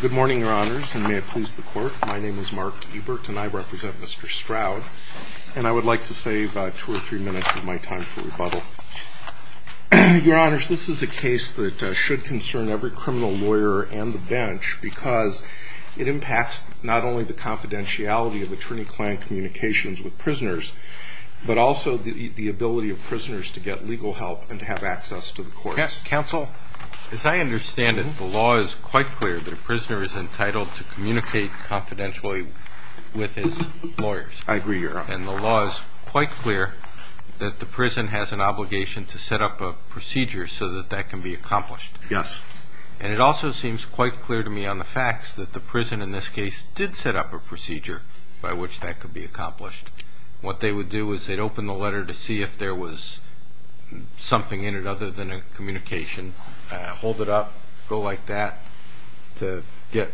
Good morning, your honors, and may it please the court. My name is Mark Ebert, and I represent Mr. Stroud. And I would like to save two or three minutes of my time for rebuttal. Your honors, this is a case that should concern every criminal lawyer and the bench because it impacts not only the confidentiality of attorney-client communications with prisoners, but also the ability of prisoners to get legal help and to have access to the courts. Yes, counsel? As I understand it, the law is quite clear that a prisoner is entitled to communicate confidentially with his lawyers. I agree, your honor. And the law is quite clear that the prison has an obligation to set up a procedure so that that can be accomplished. Yes. And it also seems quite clear to me on the facts that the prison in this case did set up a procedure by which that could be accomplished. What they would do is they'd open the letter to see if there was something in it other than a communication, hold it up, go like that to get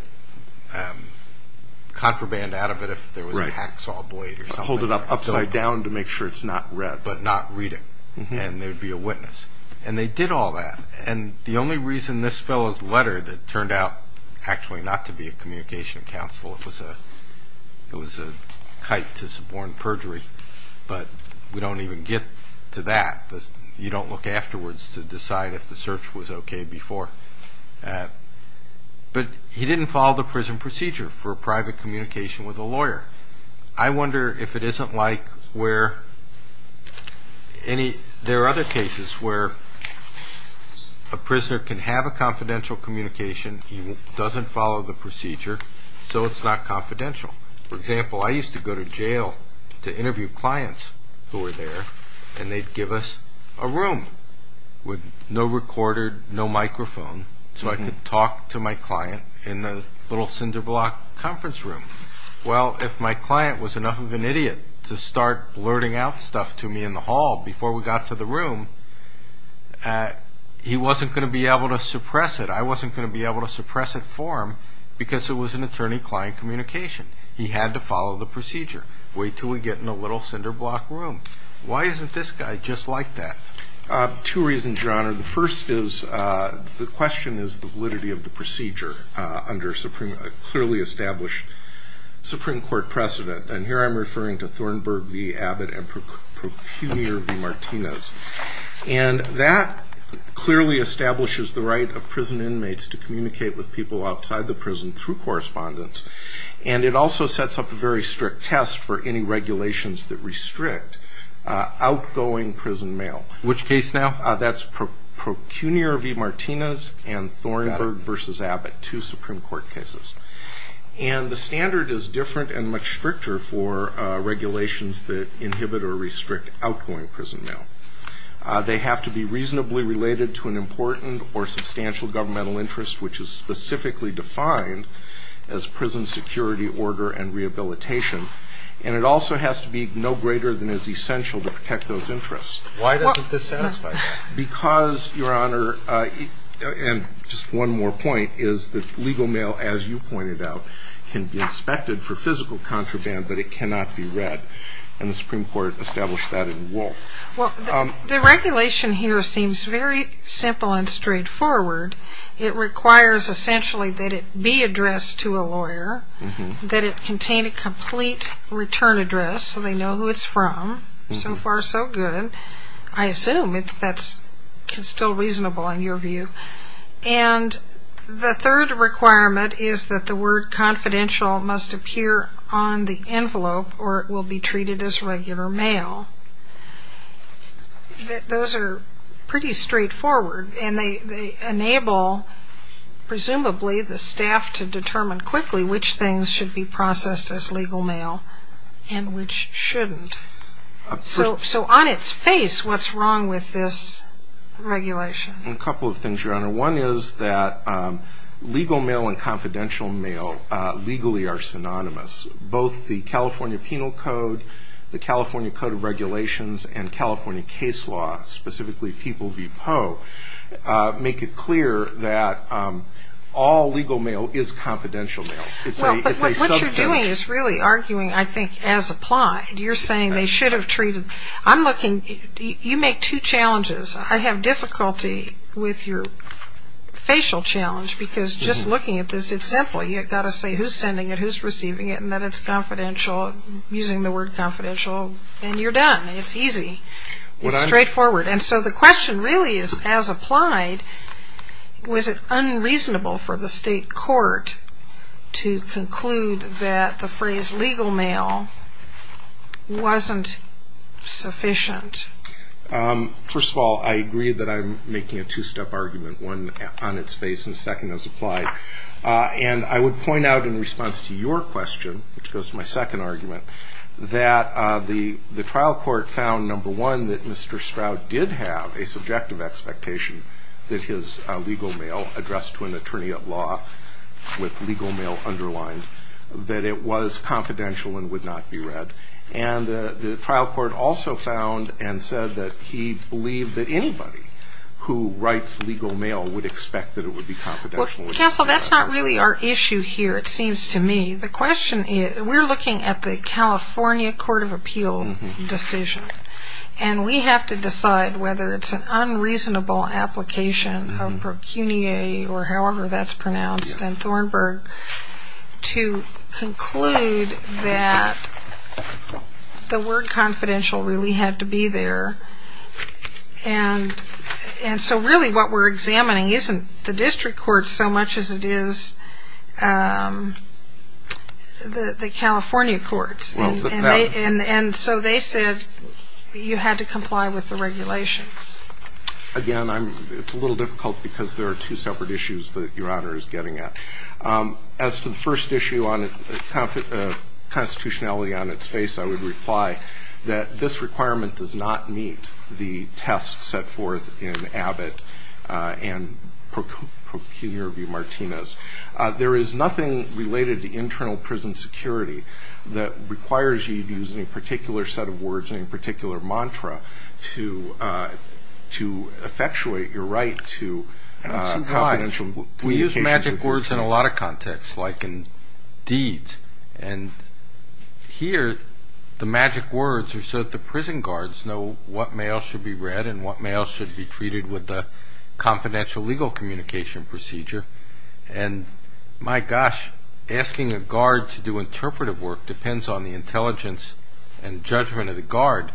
contraband out of it if there was a hacksaw blade or something like that. Hold it up upside down to make sure it's not read. But not read it, and there'd be a witness. And they did all that, and the only reason this fellow's letter that turned out actually not to be a communication counsel, it was a kite to suborn perjury, but we don't even get to that. You don't look afterwards to decide if the search was okay before. But he didn't follow the prison procedure for private communication with a lawyer. I wonder if it isn't like where there are other cases where a prisoner can have a confidential communication, he doesn't follow the procedure, so it's not confidential. For example, I used to go to jail to interview clients who were there, and they'd give us a room with no recorder, no microphone, so I could talk to my client in the little cinder block conference room. Well, if my client was enough of an idiot to start blurting out stuff to me in the hall before we got to the room, he wasn't going to be able to suppress it. I wasn't going to be able to suppress it for him because it was an attorney-client communication. He had to follow the procedure, wait until we get in the little cinder block room. Why isn't this guy just like that? Two reasons, Your Honor. The first is the question is the validity of the procedure under a clearly established Supreme Court precedent, and here I'm referring to Thornburg v. Abbott and Procunier v. Martinez. And that clearly establishes the right of prison inmates to communicate with people outside the prison through correspondence, and it also sets up a very strict test for any regulations that restrict outgoing prison mail. Which case now? That's Procunier v. Martinez and Thornburg v. Abbott, two Supreme Court cases. And the standard is different and much stricter for regulations that inhibit or restrict outgoing prison mail. They have to be reasonably related to an important or substantial governmental interest, which is specifically defined as prison security order and rehabilitation, and it also has to be no greater than is essential to protect those interests. Why doesn't this satisfy that? Because, Your Honor, and just one more point is that legal mail, as you pointed out, can be inspected for physical contraband, but it cannot be read, and the Supreme Court established that in Wool. Well, the regulation here seems very simple and straightforward. It requires essentially that it be addressed to a lawyer, that it contain a complete return address so they know who it's from. So far, so good. I assume that's still reasonable in your view. And the third requirement is that the word confidential must appear on the envelope or it will be treated as regular mail. Those are pretty straightforward, and they enable, presumably, the staff to determine quickly which things should be processed as legal mail and which shouldn't. So on its face, what's wrong with this regulation? A couple of things, Your Honor. One is that legal mail and confidential mail legally are synonymous. Both the California Penal Code, the California Code of Regulations, and California case law, specifically People v. Poe, make it clear that all legal mail is confidential mail. Well, but what you're doing is really arguing, I think, as applied. You're saying they should have treated. I'm looking. You make two challenges. I have difficulty with your facial challenge because just looking at this, it's simple. You've got to say who's sending it, who's receiving it, and that it's confidential, using the word confidential. And you're done. It's easy. It's straightforward. And so the question really is, as applied, was it unreasonable for the state court to conclude that the phrase legal mail wasn't sufficient? First of all, I agree that I'm making a two-step argument, one on its face and second as applied. And I would point out in response to your question, which goes to my second argument, that the trial court found, number one, that Mr. Stroud did have a subjective expectation that his legal mail addressed to an attorney at law with legal mail underlined, that it was confidential and would not be read. And the trial court also found and said that he believed that anybody who writes legal mail would expect that it would be confidential. Counsel, that's not really our issue here, it seems to me. The question is, we're looking at the California Court of Appeals decision, and we have to decide whether it's an unreasonable application of procunier, or however that's pronounced, in Thornburg, to conclude that the word confidential really had to be there. And so really what we're examining isn't the district court so much as it is the California courts. And so they said you had to comply with the regulation. Again, it's a little difficult because there are two separate issues that Your Honor is getting at. As to the first issue, constitutionality on its face, I would reply that this requirement does not meet the test set forth in Abbott and Procunior v. Martinez. There is nothing related to internal prison security that requires you to use any particular set of words, any particular mantra to effectuate your right to confidential communication. We use magic words in a lot of contexts, like in deeds. And here the magic words are so that the prison guards know what mail should be read and what mail should be treated with the confidential legal communication procedure. And my gosh, asking a guard to do interpretive work depends on the intelligence and judgment of the guard.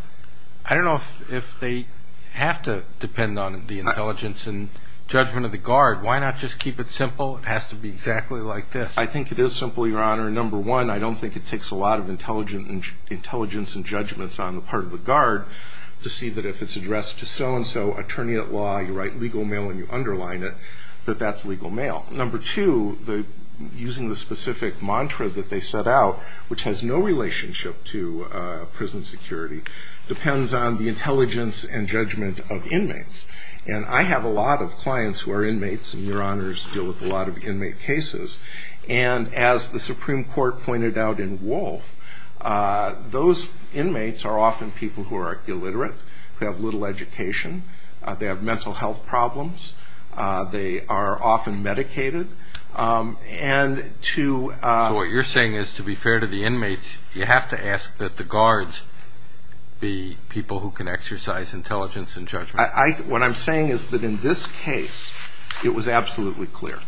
I don't know if they have to depend on the intelligence and judgment of the guard. Why not just keep it simple? It has to be exactly like this. I think it is simple, Your Honor. Number one, I don't think it takes a lot of intelligence and judgments on the part of the guard to see that if it's addressed to so-and-so attorney at law, you write legal mail and you underline it, that that's legal mail. Number two, using the specific mantra that they set out, which has no relationship to prison security, depends on the intelligence and judgment of inmates. And I have a lot of clients who are inmates, and Your Honors deal with a lot of inmate cases. And as the Supreme Court pointed out in Wolf, those inmates are often people who are illiterate, who have little education, they have mental health problems, they are often medicated. So what you're saying is, to be fair to the inmates, you have to ask that the guards be people who can exercise intelligence and judgment. What I'm saying is that in this case, it was absolutely clear.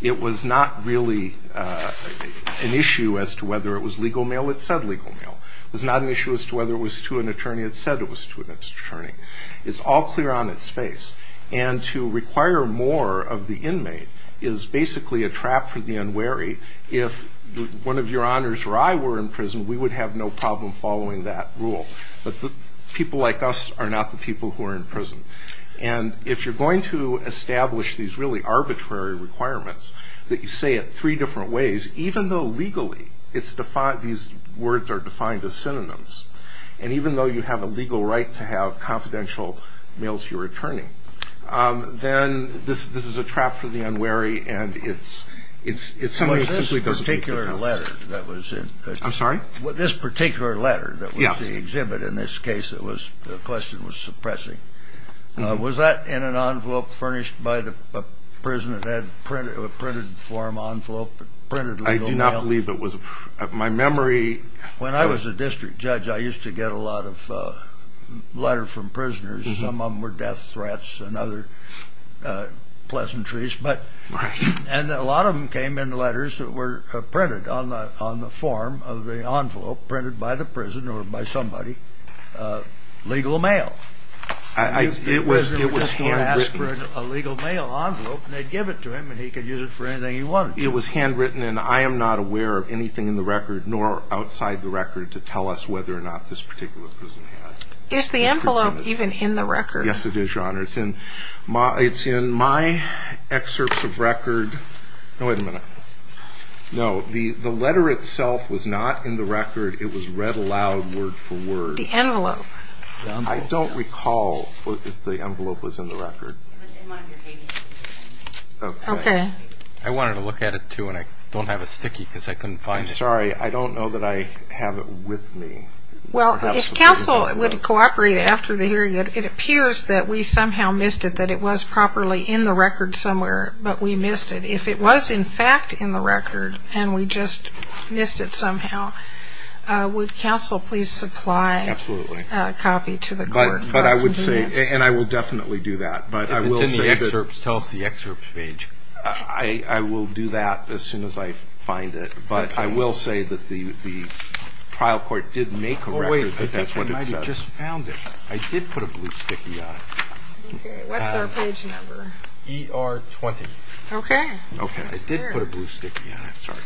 It was not really an issue as to whether it was legal mail. It said legal mail. It was not an issue as to whether it was to an attorney. It said it was to an attorney. It's all clear on its face. And to require more of the inmate is basically a trap for the unwary. If one of Your Honors or I were in prison, we would have no problem following that rule. But people like us are not the people who are in prison. And if you're going to establish these really arbitrary requirements that you say it three different ways, even though legally these words are defined as synonyms, and even though you have a legal right to have confidential mail to your attorney, then this is a trap for the unwary, and it's something that simply doesn't make sense. I'm sorry? This particular letter that was the exhibit in this case, the question was suppressing. Was that in an envelope furnished by the prison that had a printed form envelope, printed legal mail? I do not believe it was. My memory... When I was a district judge, I used to get a lot of letters from prisoners. Some of them were death threats and other pleasantries. And a lot of them came in letters that were printed on the form of the envelope, printed by the prison or by somebody, legal mail. The prisoner would just ask for a legal mail envelope, and they'd give it to him, and he could use it for anything he wanted. It was handwritten, and I am not aware of anything in the record nor outside the record to tell us whether or not this particular prison has. Is the envelope even in the record? Yes, it is, Your Honor. It's in my excerpts of record. No, wait a minute. No, the letter itself was not in the record. It was read aloud word for word. The envelope. I don't recall if the envelope was in the record. It was in one of your papers. Okay. I wanted to look at it, too, and I don't have it sticky because I couldn't find it. I'm sorry. I don't know that I have it with me. Well, if counsel would cooperate after the hearing, it appears that we somehow missed it, that it was properly in the record somewhere, but we missed it. If it was, in fact, in the record and we just missed it somehow, would counsel please supply a copy to the court? Absolutely. But I would say, and I will definitely do that, but I will say that. If it's in the excerpts, tell us the excerpts page. I will do that as soon as I find it. But I will say that the trial court did make a record that that's what it says. Oh, wait. I did put a blue sticky on it. Okay. What's our page number? ER20. Okay. Okay. It's there. I did put a blue sticky on it. Sorry.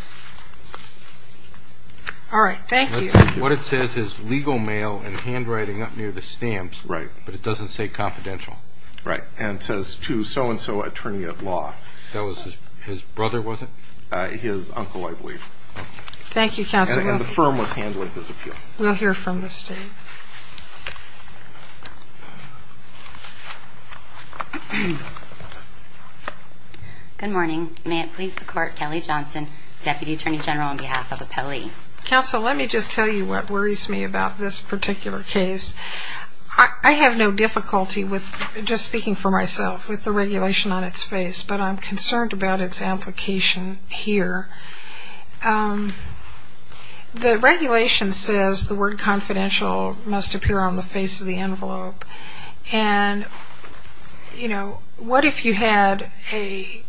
All right. Thank you. What it says is legal mail and handwriting up near the stamps. Right. But it doesn't say confidential. Right. And it says to so-and-so attorney of law. That was his brother, was it? His uncle, I believe. Thank you, counsel. And the firm was handling his appeal. We'll hear from the state. Good morning. May it please the court, Kelly Johnson, Deputy Attorney General on behalf of Appellee. Counsel, let me just tell you what worries me about this particular case. I have no difficulty with, just speaking for myself, with the regulation on its face, but I'm concerned about its application here. The regulation says the word confidential must appear on the face of the envelope. And, you know, what if you had a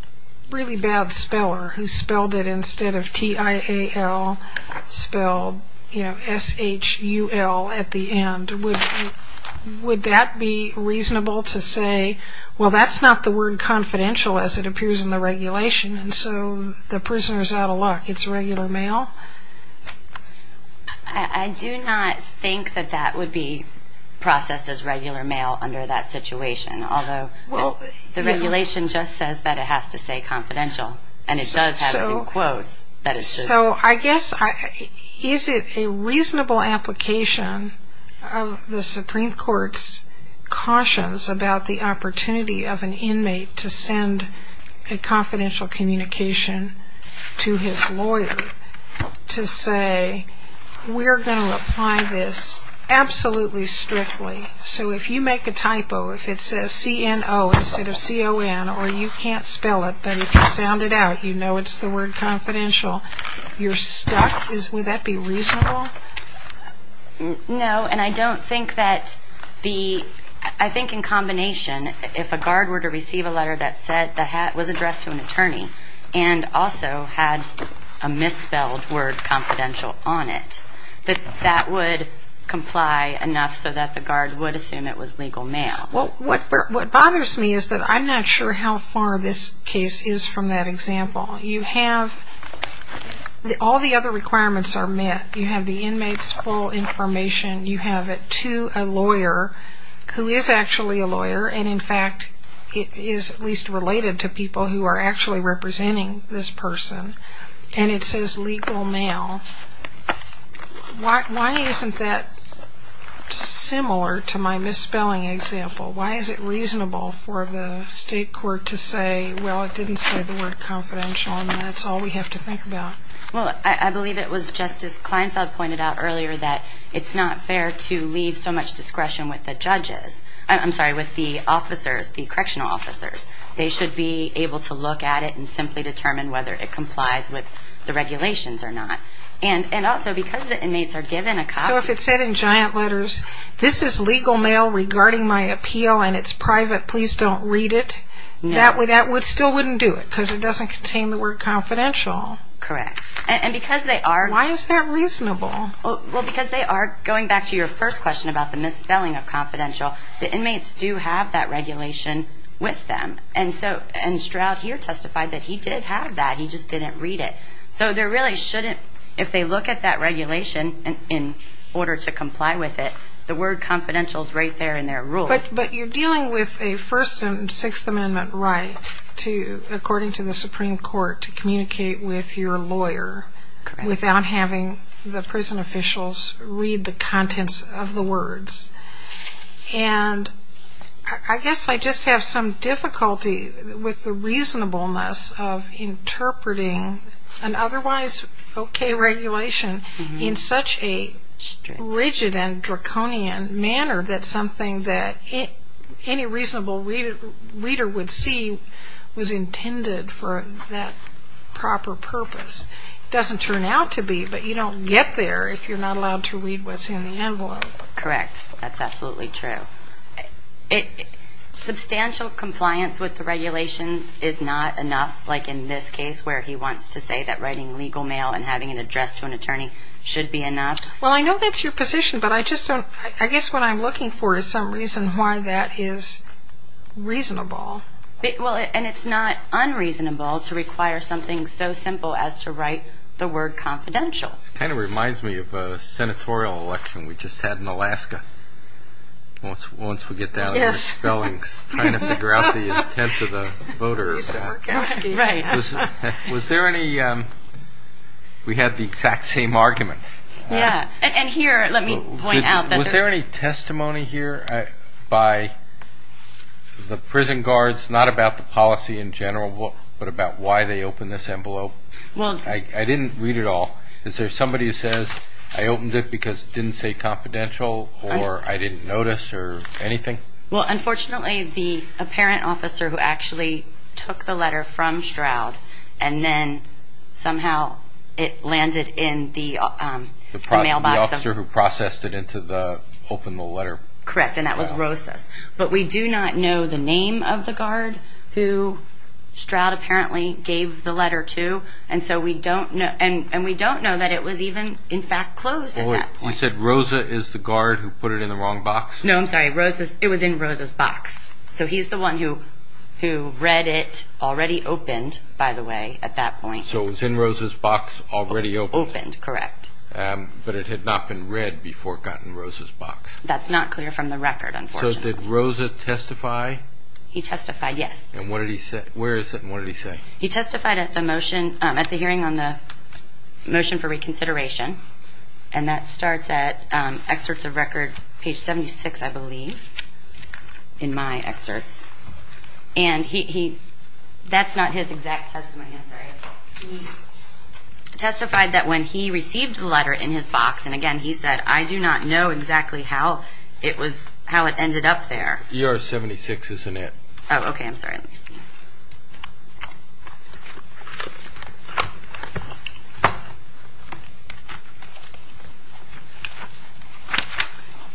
really bad speller who spelled it instead of T-I-A-L, spelled, you know, S-H-U-L at the end? Would that be reasonable to say, well, that's not the word confidential as it appears in the regulation. And so the prisoner is out of luck. It's regular mail? I do not think that that would be processed as regular mail under that situation. Although the regulation just says that it has to say confidential, and it does have it in quotes that it's true. So I guess, is it a reasonable application of the Supreme Court's cautions about the opportunity of an inmate to send a confidential communication to his lawyer to say we're going to apply this absolutely strictly. So if you make a typo, if it says C-N-O instead of C-O-N, or you can't spell it, but if you sound it out, you know it's the word confidential, you're stuck. Would that be reasonable? No, and I don't think that the – I think in combination, if a guard were to receive a letter that said the hat was addressed to an attorney and also had a misspelled word confidential on it, that that would comply enough so that the guard would assume it was legal mail. Well, what bothers me is that I'm not sure how far this case is from that example. You have – all the other requirements are met. You have the inmate's full information. You have it to a lawyer who is actually a lawyer, and in fact is at least related to people who are actually representing this person, and it says legal mail. Why isn't that similar to my misspelling example? Why is it reasonable for the state court to say, well, it didn't say the word confidential, and that's all we have to think about? Well, I believe it was Justice Kleinfeld pointed out earlier that it's not fair to leave so much discretion with the judges – I'm sorry, with the officers, the correctional officers. They should be able to look at it and simply determine whether it complies with the regulations or not. And also, because the inmates are given a copy – So if it said in giant letters, this is legal mail regarding my appeal and it's private, please don't read it, that still wouldn't do it because it doesn't contain the word confidential. Correct. And because they are – Why is that reasonable? Well, because they are – going back to your first question about the misspelling of confidential, the inmates do have that regulation with them, and Stroud here testified that he did have that, he just didn't read it. So there really shouldn't – if they look at that regulation in order to comply with it, the word confidential is right there in their rules. But you're dealing with a First and Sixth Amendment right, according to the Supreme Court, to communicate with your lawyer without having the prison officials read the contents of the words. And I guess I just have some difficulty with the reasonableness of interpreting an otherwise okay regulation in such a rigid and draconian manner that something that any reasonable reader would see was intended for that proper purpose. It doesn't turn out to be, but you don't get there if you're not allowed to read what's in the envelope. Correct. That's absolutely true. Substantial compliance with the regulations is not enough, like in this case where he wants to say that writing legal mail and having an address to an attorney should be enough? Well, I know that's your position, but I just don't – I guess what I'm looking for is some reason why that is reasonable. Well, and it's not unreasonable to require something so simple as to write the word confidential. It kind of reminds me of a senatorial election we just had in Alaska. Once we get down to the spellings, trying to figure out the intent of the voters. It's work asking. Right. Was there any – we had the exact same argument. And here, let me point out that there – Was there any testimony here by the prison guards, not about the policy in general, but about why they opened this envelope? Well – I didn't read it all. Is there somebody who says, I opened it because it didn't say confidential or I didn't notice or anything? Well, unfortunately, the apparent officer who actually took the letter from Stroud and then somehow it landed in the mailbox. The officer who processed it into the – opened the letter. Correct, and that was Rosa's. But we do not know the name of the guard who Stroud apparently gave the letter to, and so we don't know – and we don't know that it was even, in fact, closed at that point. You said Rosa is the guard who put it in the wrong box? No, I'm sorry. Rosa's – it was in Rosa's box. So he's the one who read it, already opened, by the way, at that point. So it was in Rosa's box, already opened? Opened, correct. But it had not been read before it got in Rosa's box? That's not clear from the record, unfortunately. So did Rosa testify? He testified, yes. And what did he say – where is it and what did he say? He testified at the motion – at the hearing on the motion for reconsideration, and that starts at excerpts of record, page 76, I believe, in my excerpts. And he – that's not his exact testimony, I'm sorry. He testified that when he received the letter in his box, and again, he said, I do not know exactly how it was – how it ended up there. ER 76 is in it. Oh, okay, I'm sorry.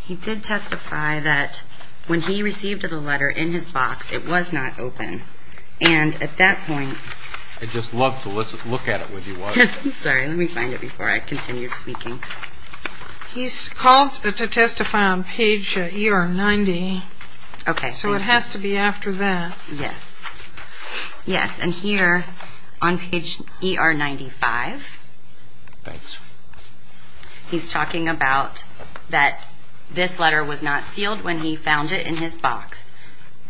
He did testify that when he received the letter in his box, it was not open. And at that point – I'd just love to look at it with you, Wanda. Sorry, let me find it before I continue speaking. He called to testify on page ER 90. Okay, thank you. So it has to be after that. Yes. Yes, and here, on page ER 95. Thanks. He's talking about that this letter was not sealed when he found it in his box.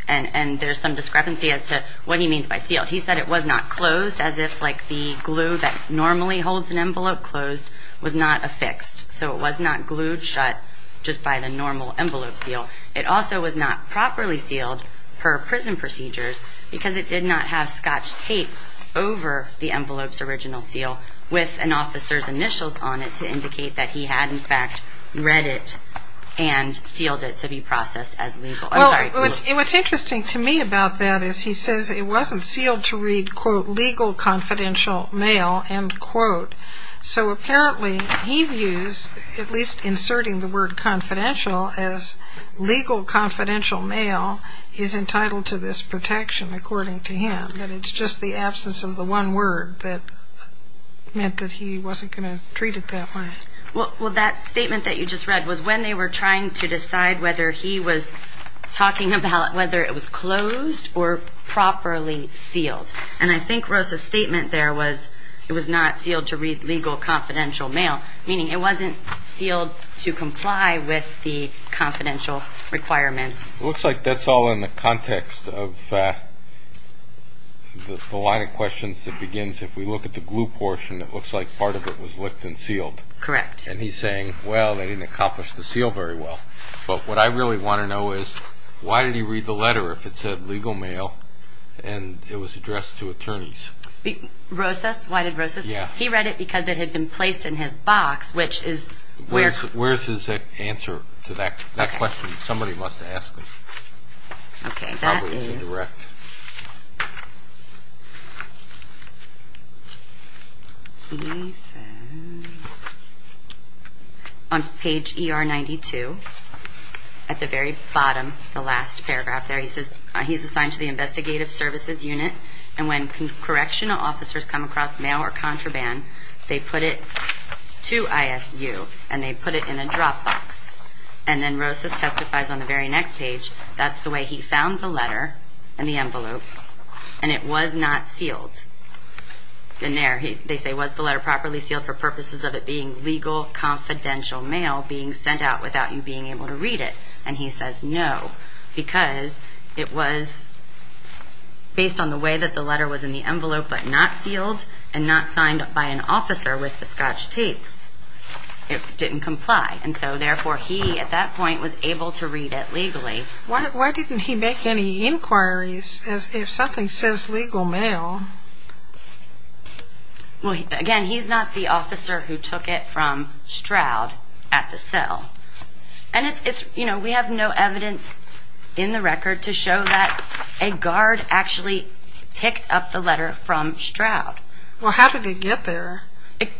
And there's some discrepancy as to what he means by sealed. He said it was not closed as if, like, the glue that normally holds an envelope closed was not affixed. So it was not glued shut just by the normal envelope seal. It also was not properly sealed per prison procedures because it did not have scotch tape over the envelope's original seal with an officer's initials on it to indicate that he had, in fact, read it and sealed it to be processed as legal. I'm sorry. What's interesting to me about that is he says it wasn't sealed to read, quote, legal confidential mail, end quote. So apparently he views, at least inserting the word confidential, as legal confidential mail is entitled to this protection, according to him, that it's just the absence of the one word that meant that he wasn't going to treat it that way. Well, that statement that you just read was when they were trying to decide whether he was talking about whether it was closed or properly sealed. And I think Rosa's statement there was it was not sealed to read legal confidential mail, meaning it wasn't sealed to comply with the confidential requirements. It looks like that's all in the context of the line of questions that begins. If we look at the glue portion, it looks like part of it was licked and sealed. Correct. And he's saying, well, they didn't accomplish the seal very well. But what I really want to know is why did he read the letter if it said legal mail and it was addressed to attorneys? Rosa's? Why did Rosa's? Yeah. Well, he read it because it had been placed in his box, which is where. Where's his answer to that question? Somebody must ask him. Okay. That is. Probably indirect. He says, on page ER 92, at the very bottom, the last paragraph there, he says, he's assigned to the investigative services unit. And when correctional officers come across mail or contraband, they put it to ISU, and they put it in a drop box. And then Rosa's testifies on the very next page, that's the way he found the letter in the envelope, and it was not sealed. And there, they say, was the letter properly sealed for purposes of it being legal confidential mail being sent out without you being able to read it? And he says, no, because it was based on the way that the letter was in the envelope, but not sealed and not signed by an officer with the scotch tape. It didn't comply. And so, therefore, he, at that point, was able to read it legally. Why didn't he make any inquiries if something says legal mail? Well, again, he's not the officer who took it from Stroud at the cell. And, you know, we have no evidence in the record to show that a guard actually picked up the letter from Stroud. Well, how did it get there?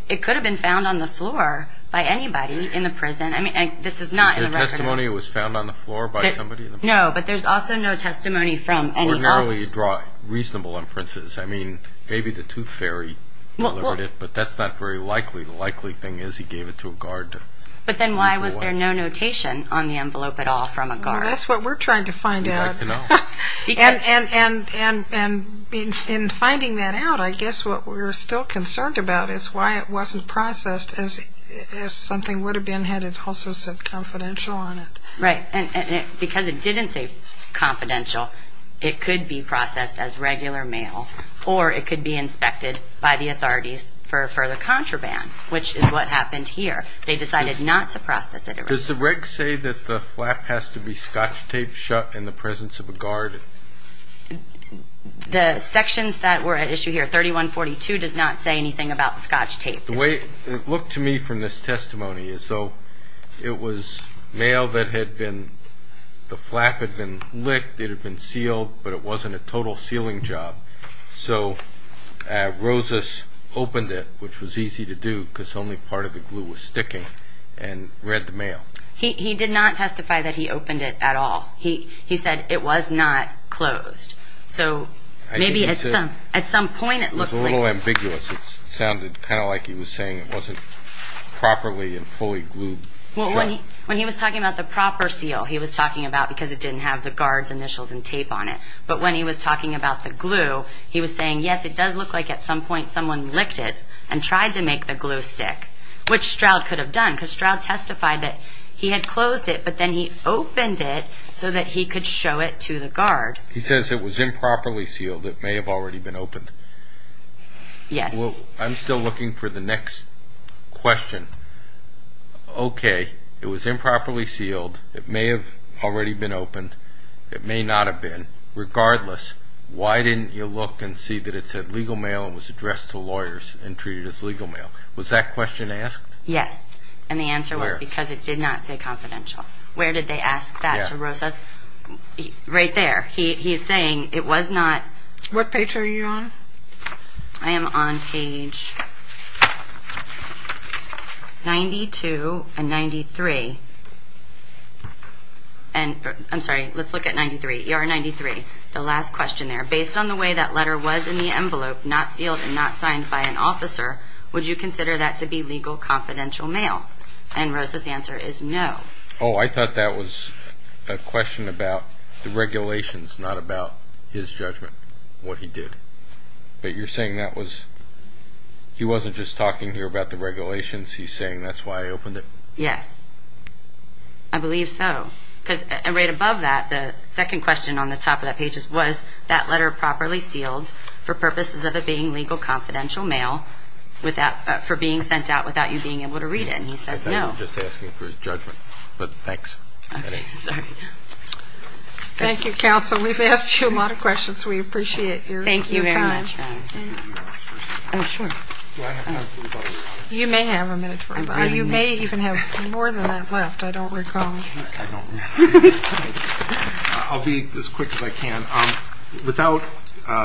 It could have been found on the floor by anybody in the prison. I mean, this is not in the record. Is there testimony it was found on the floor by somebody in the prison? No, but there's also no testimony from any officers. Ordinarily, you draw reasonable inferences. I mean, maybe the tooth fairy delivered it, but that's not very likely. The likely thing is he gave it to a guard. But then why was there no notation on the envelope at all from a guard? That's what we're trying to find out. And in finding that out, I guess what we're still concerned about is why it wasn't processed as if something would have been, had it also said confidential on it. Right, and because it didn't say confidential, it could be processed as regular mail, or it could be inspected by the authorities for further contraband, which is what happened here. They decided not to process it. Does the reg say that the flap has to be scotch tape shut in the presence of a guard? The sections that were at issue here, 3142, does not say anything about scotch tape. The way it looked to me from this testimony is, so it was mail that had been, the flap had been licked, it had been sealed, but it wasn't a total sealing job. So Rosas opened it, which was easy to do because only part of the glue was sticking, and read the mail. He did not testify that he opened it at all. He said it was not closed. So maybe at some point it looked like. It was a little ambiguous. It sounded kind of like he was saying it wasn't properly and fully glued shut. When he was talking about the proper seal, he was talking about because it didn't have the guard's initials and tape on it. But when he was talking about the glue, he was saying, yes, it does look like at some point someone licked it and tried to make the glue stick, which Stroud could have done because Stroud testified that he had closed it, but then he opened it so that he could show it to the guard. He says it was improperly sealed. It may have already been opened. Yes. I'm still looking for the next question. Okay. It was improperly sealed. It may have already been opened. It may not have been. Regardless, why didn't you look and see that it said legal mail and was addressed to lawyers and treated as legal mail? Was that question asked? Yes. And the answer was because it did not say confidential. Where did they ask that to Rosas? Right there. He's saying it was not. What page are you on? I am on page 92 and 93. I'm sorry, let's look at 93. ER 93, the last question there. Based on the way that letter was in the envelope, not sealed and not signed by an officer, would you consider that to be legal confidential mail? And Rosas' answer is no. Oh, I thought that was a question about the regulations, not about his judgment, what he did. But you're saying that was he wasn't just talking here about the regulations, he's saying that's why he opened it? Yes, I believe so. Because right above that, the second question on the top of that page was, was that letter properly sealed for purposes of it being legal confidential mail for being sent out without you being able to read it? And he says no. I thought he was just asking for his judgment, but thanks. Okay, sorry. Thank you, counsel. We've asked you a lot of questions. We appreciate your time. Thank you very much. Oh, sure. Do I have time for one more? You may have a minute for one more. You may even have more than that left, I don't recall. I don't remember. I'll be as quick as I can. Without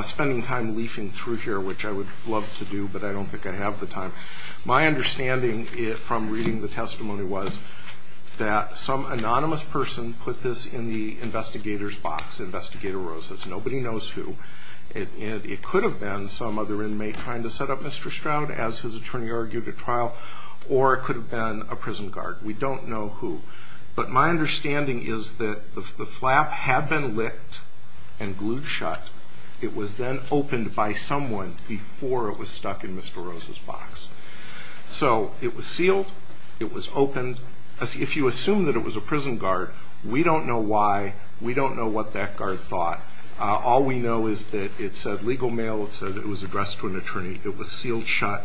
spending time leafing through here, which I would love to do, but I don't think I have the time, my understanding from reading the testimony was that some anonymous person put this in the investigator's box, Investigator Rose's. Nobody knows who. It could have been some other inmate trying to set up Mr. Stroud, as his attorney argued at trial, or it could have been a prison guard. We don't know who. But my understanding is that the flap had been licked and glued shut. It was then opened by someone before it was stuck in Mr. Rose's box. So it was sealed. It was opened. If you assume that it was a prison guard, we don't know why. We don't know what that guard thought. All we know is that it said, legal mail, it said it was addressed to an attorney. It was sealed shut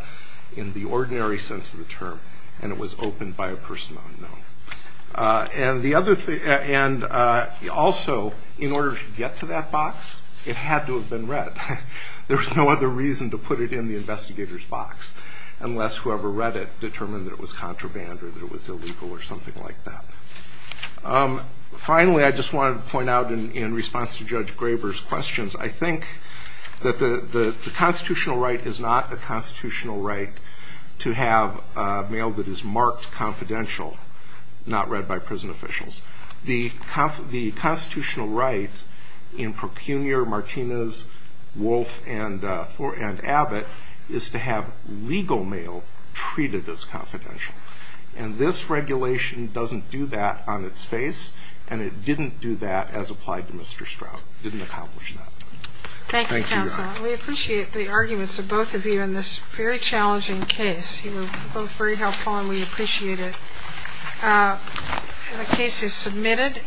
in the ordinary sense of the term, and it was opened by a person unknown. And also, in order to get to that box, it had to have been read. There was no other reason to put it in the investigator's box, unless whoever read it determined that it was contraband or that it was illegal or something like that. Finally, I just wanted to point out in response to Judge Graber's questions, I think that the constitutional right is not a constitutional right to have mail that is marked confidential, not read by prison officials. The constitutional right in Procunior, Martinez, Wolf, and Abbott is to have legal mail treated as confidential. And this regulation doesn't do that on its face, and it didn't do that as applied to Mr. Stroud. It didn't accomplish that. Thank you, counsel. We appreciate the arguments of both of you in this very challenging case. You were both very helpful, and we appreciate it. The case is submitted.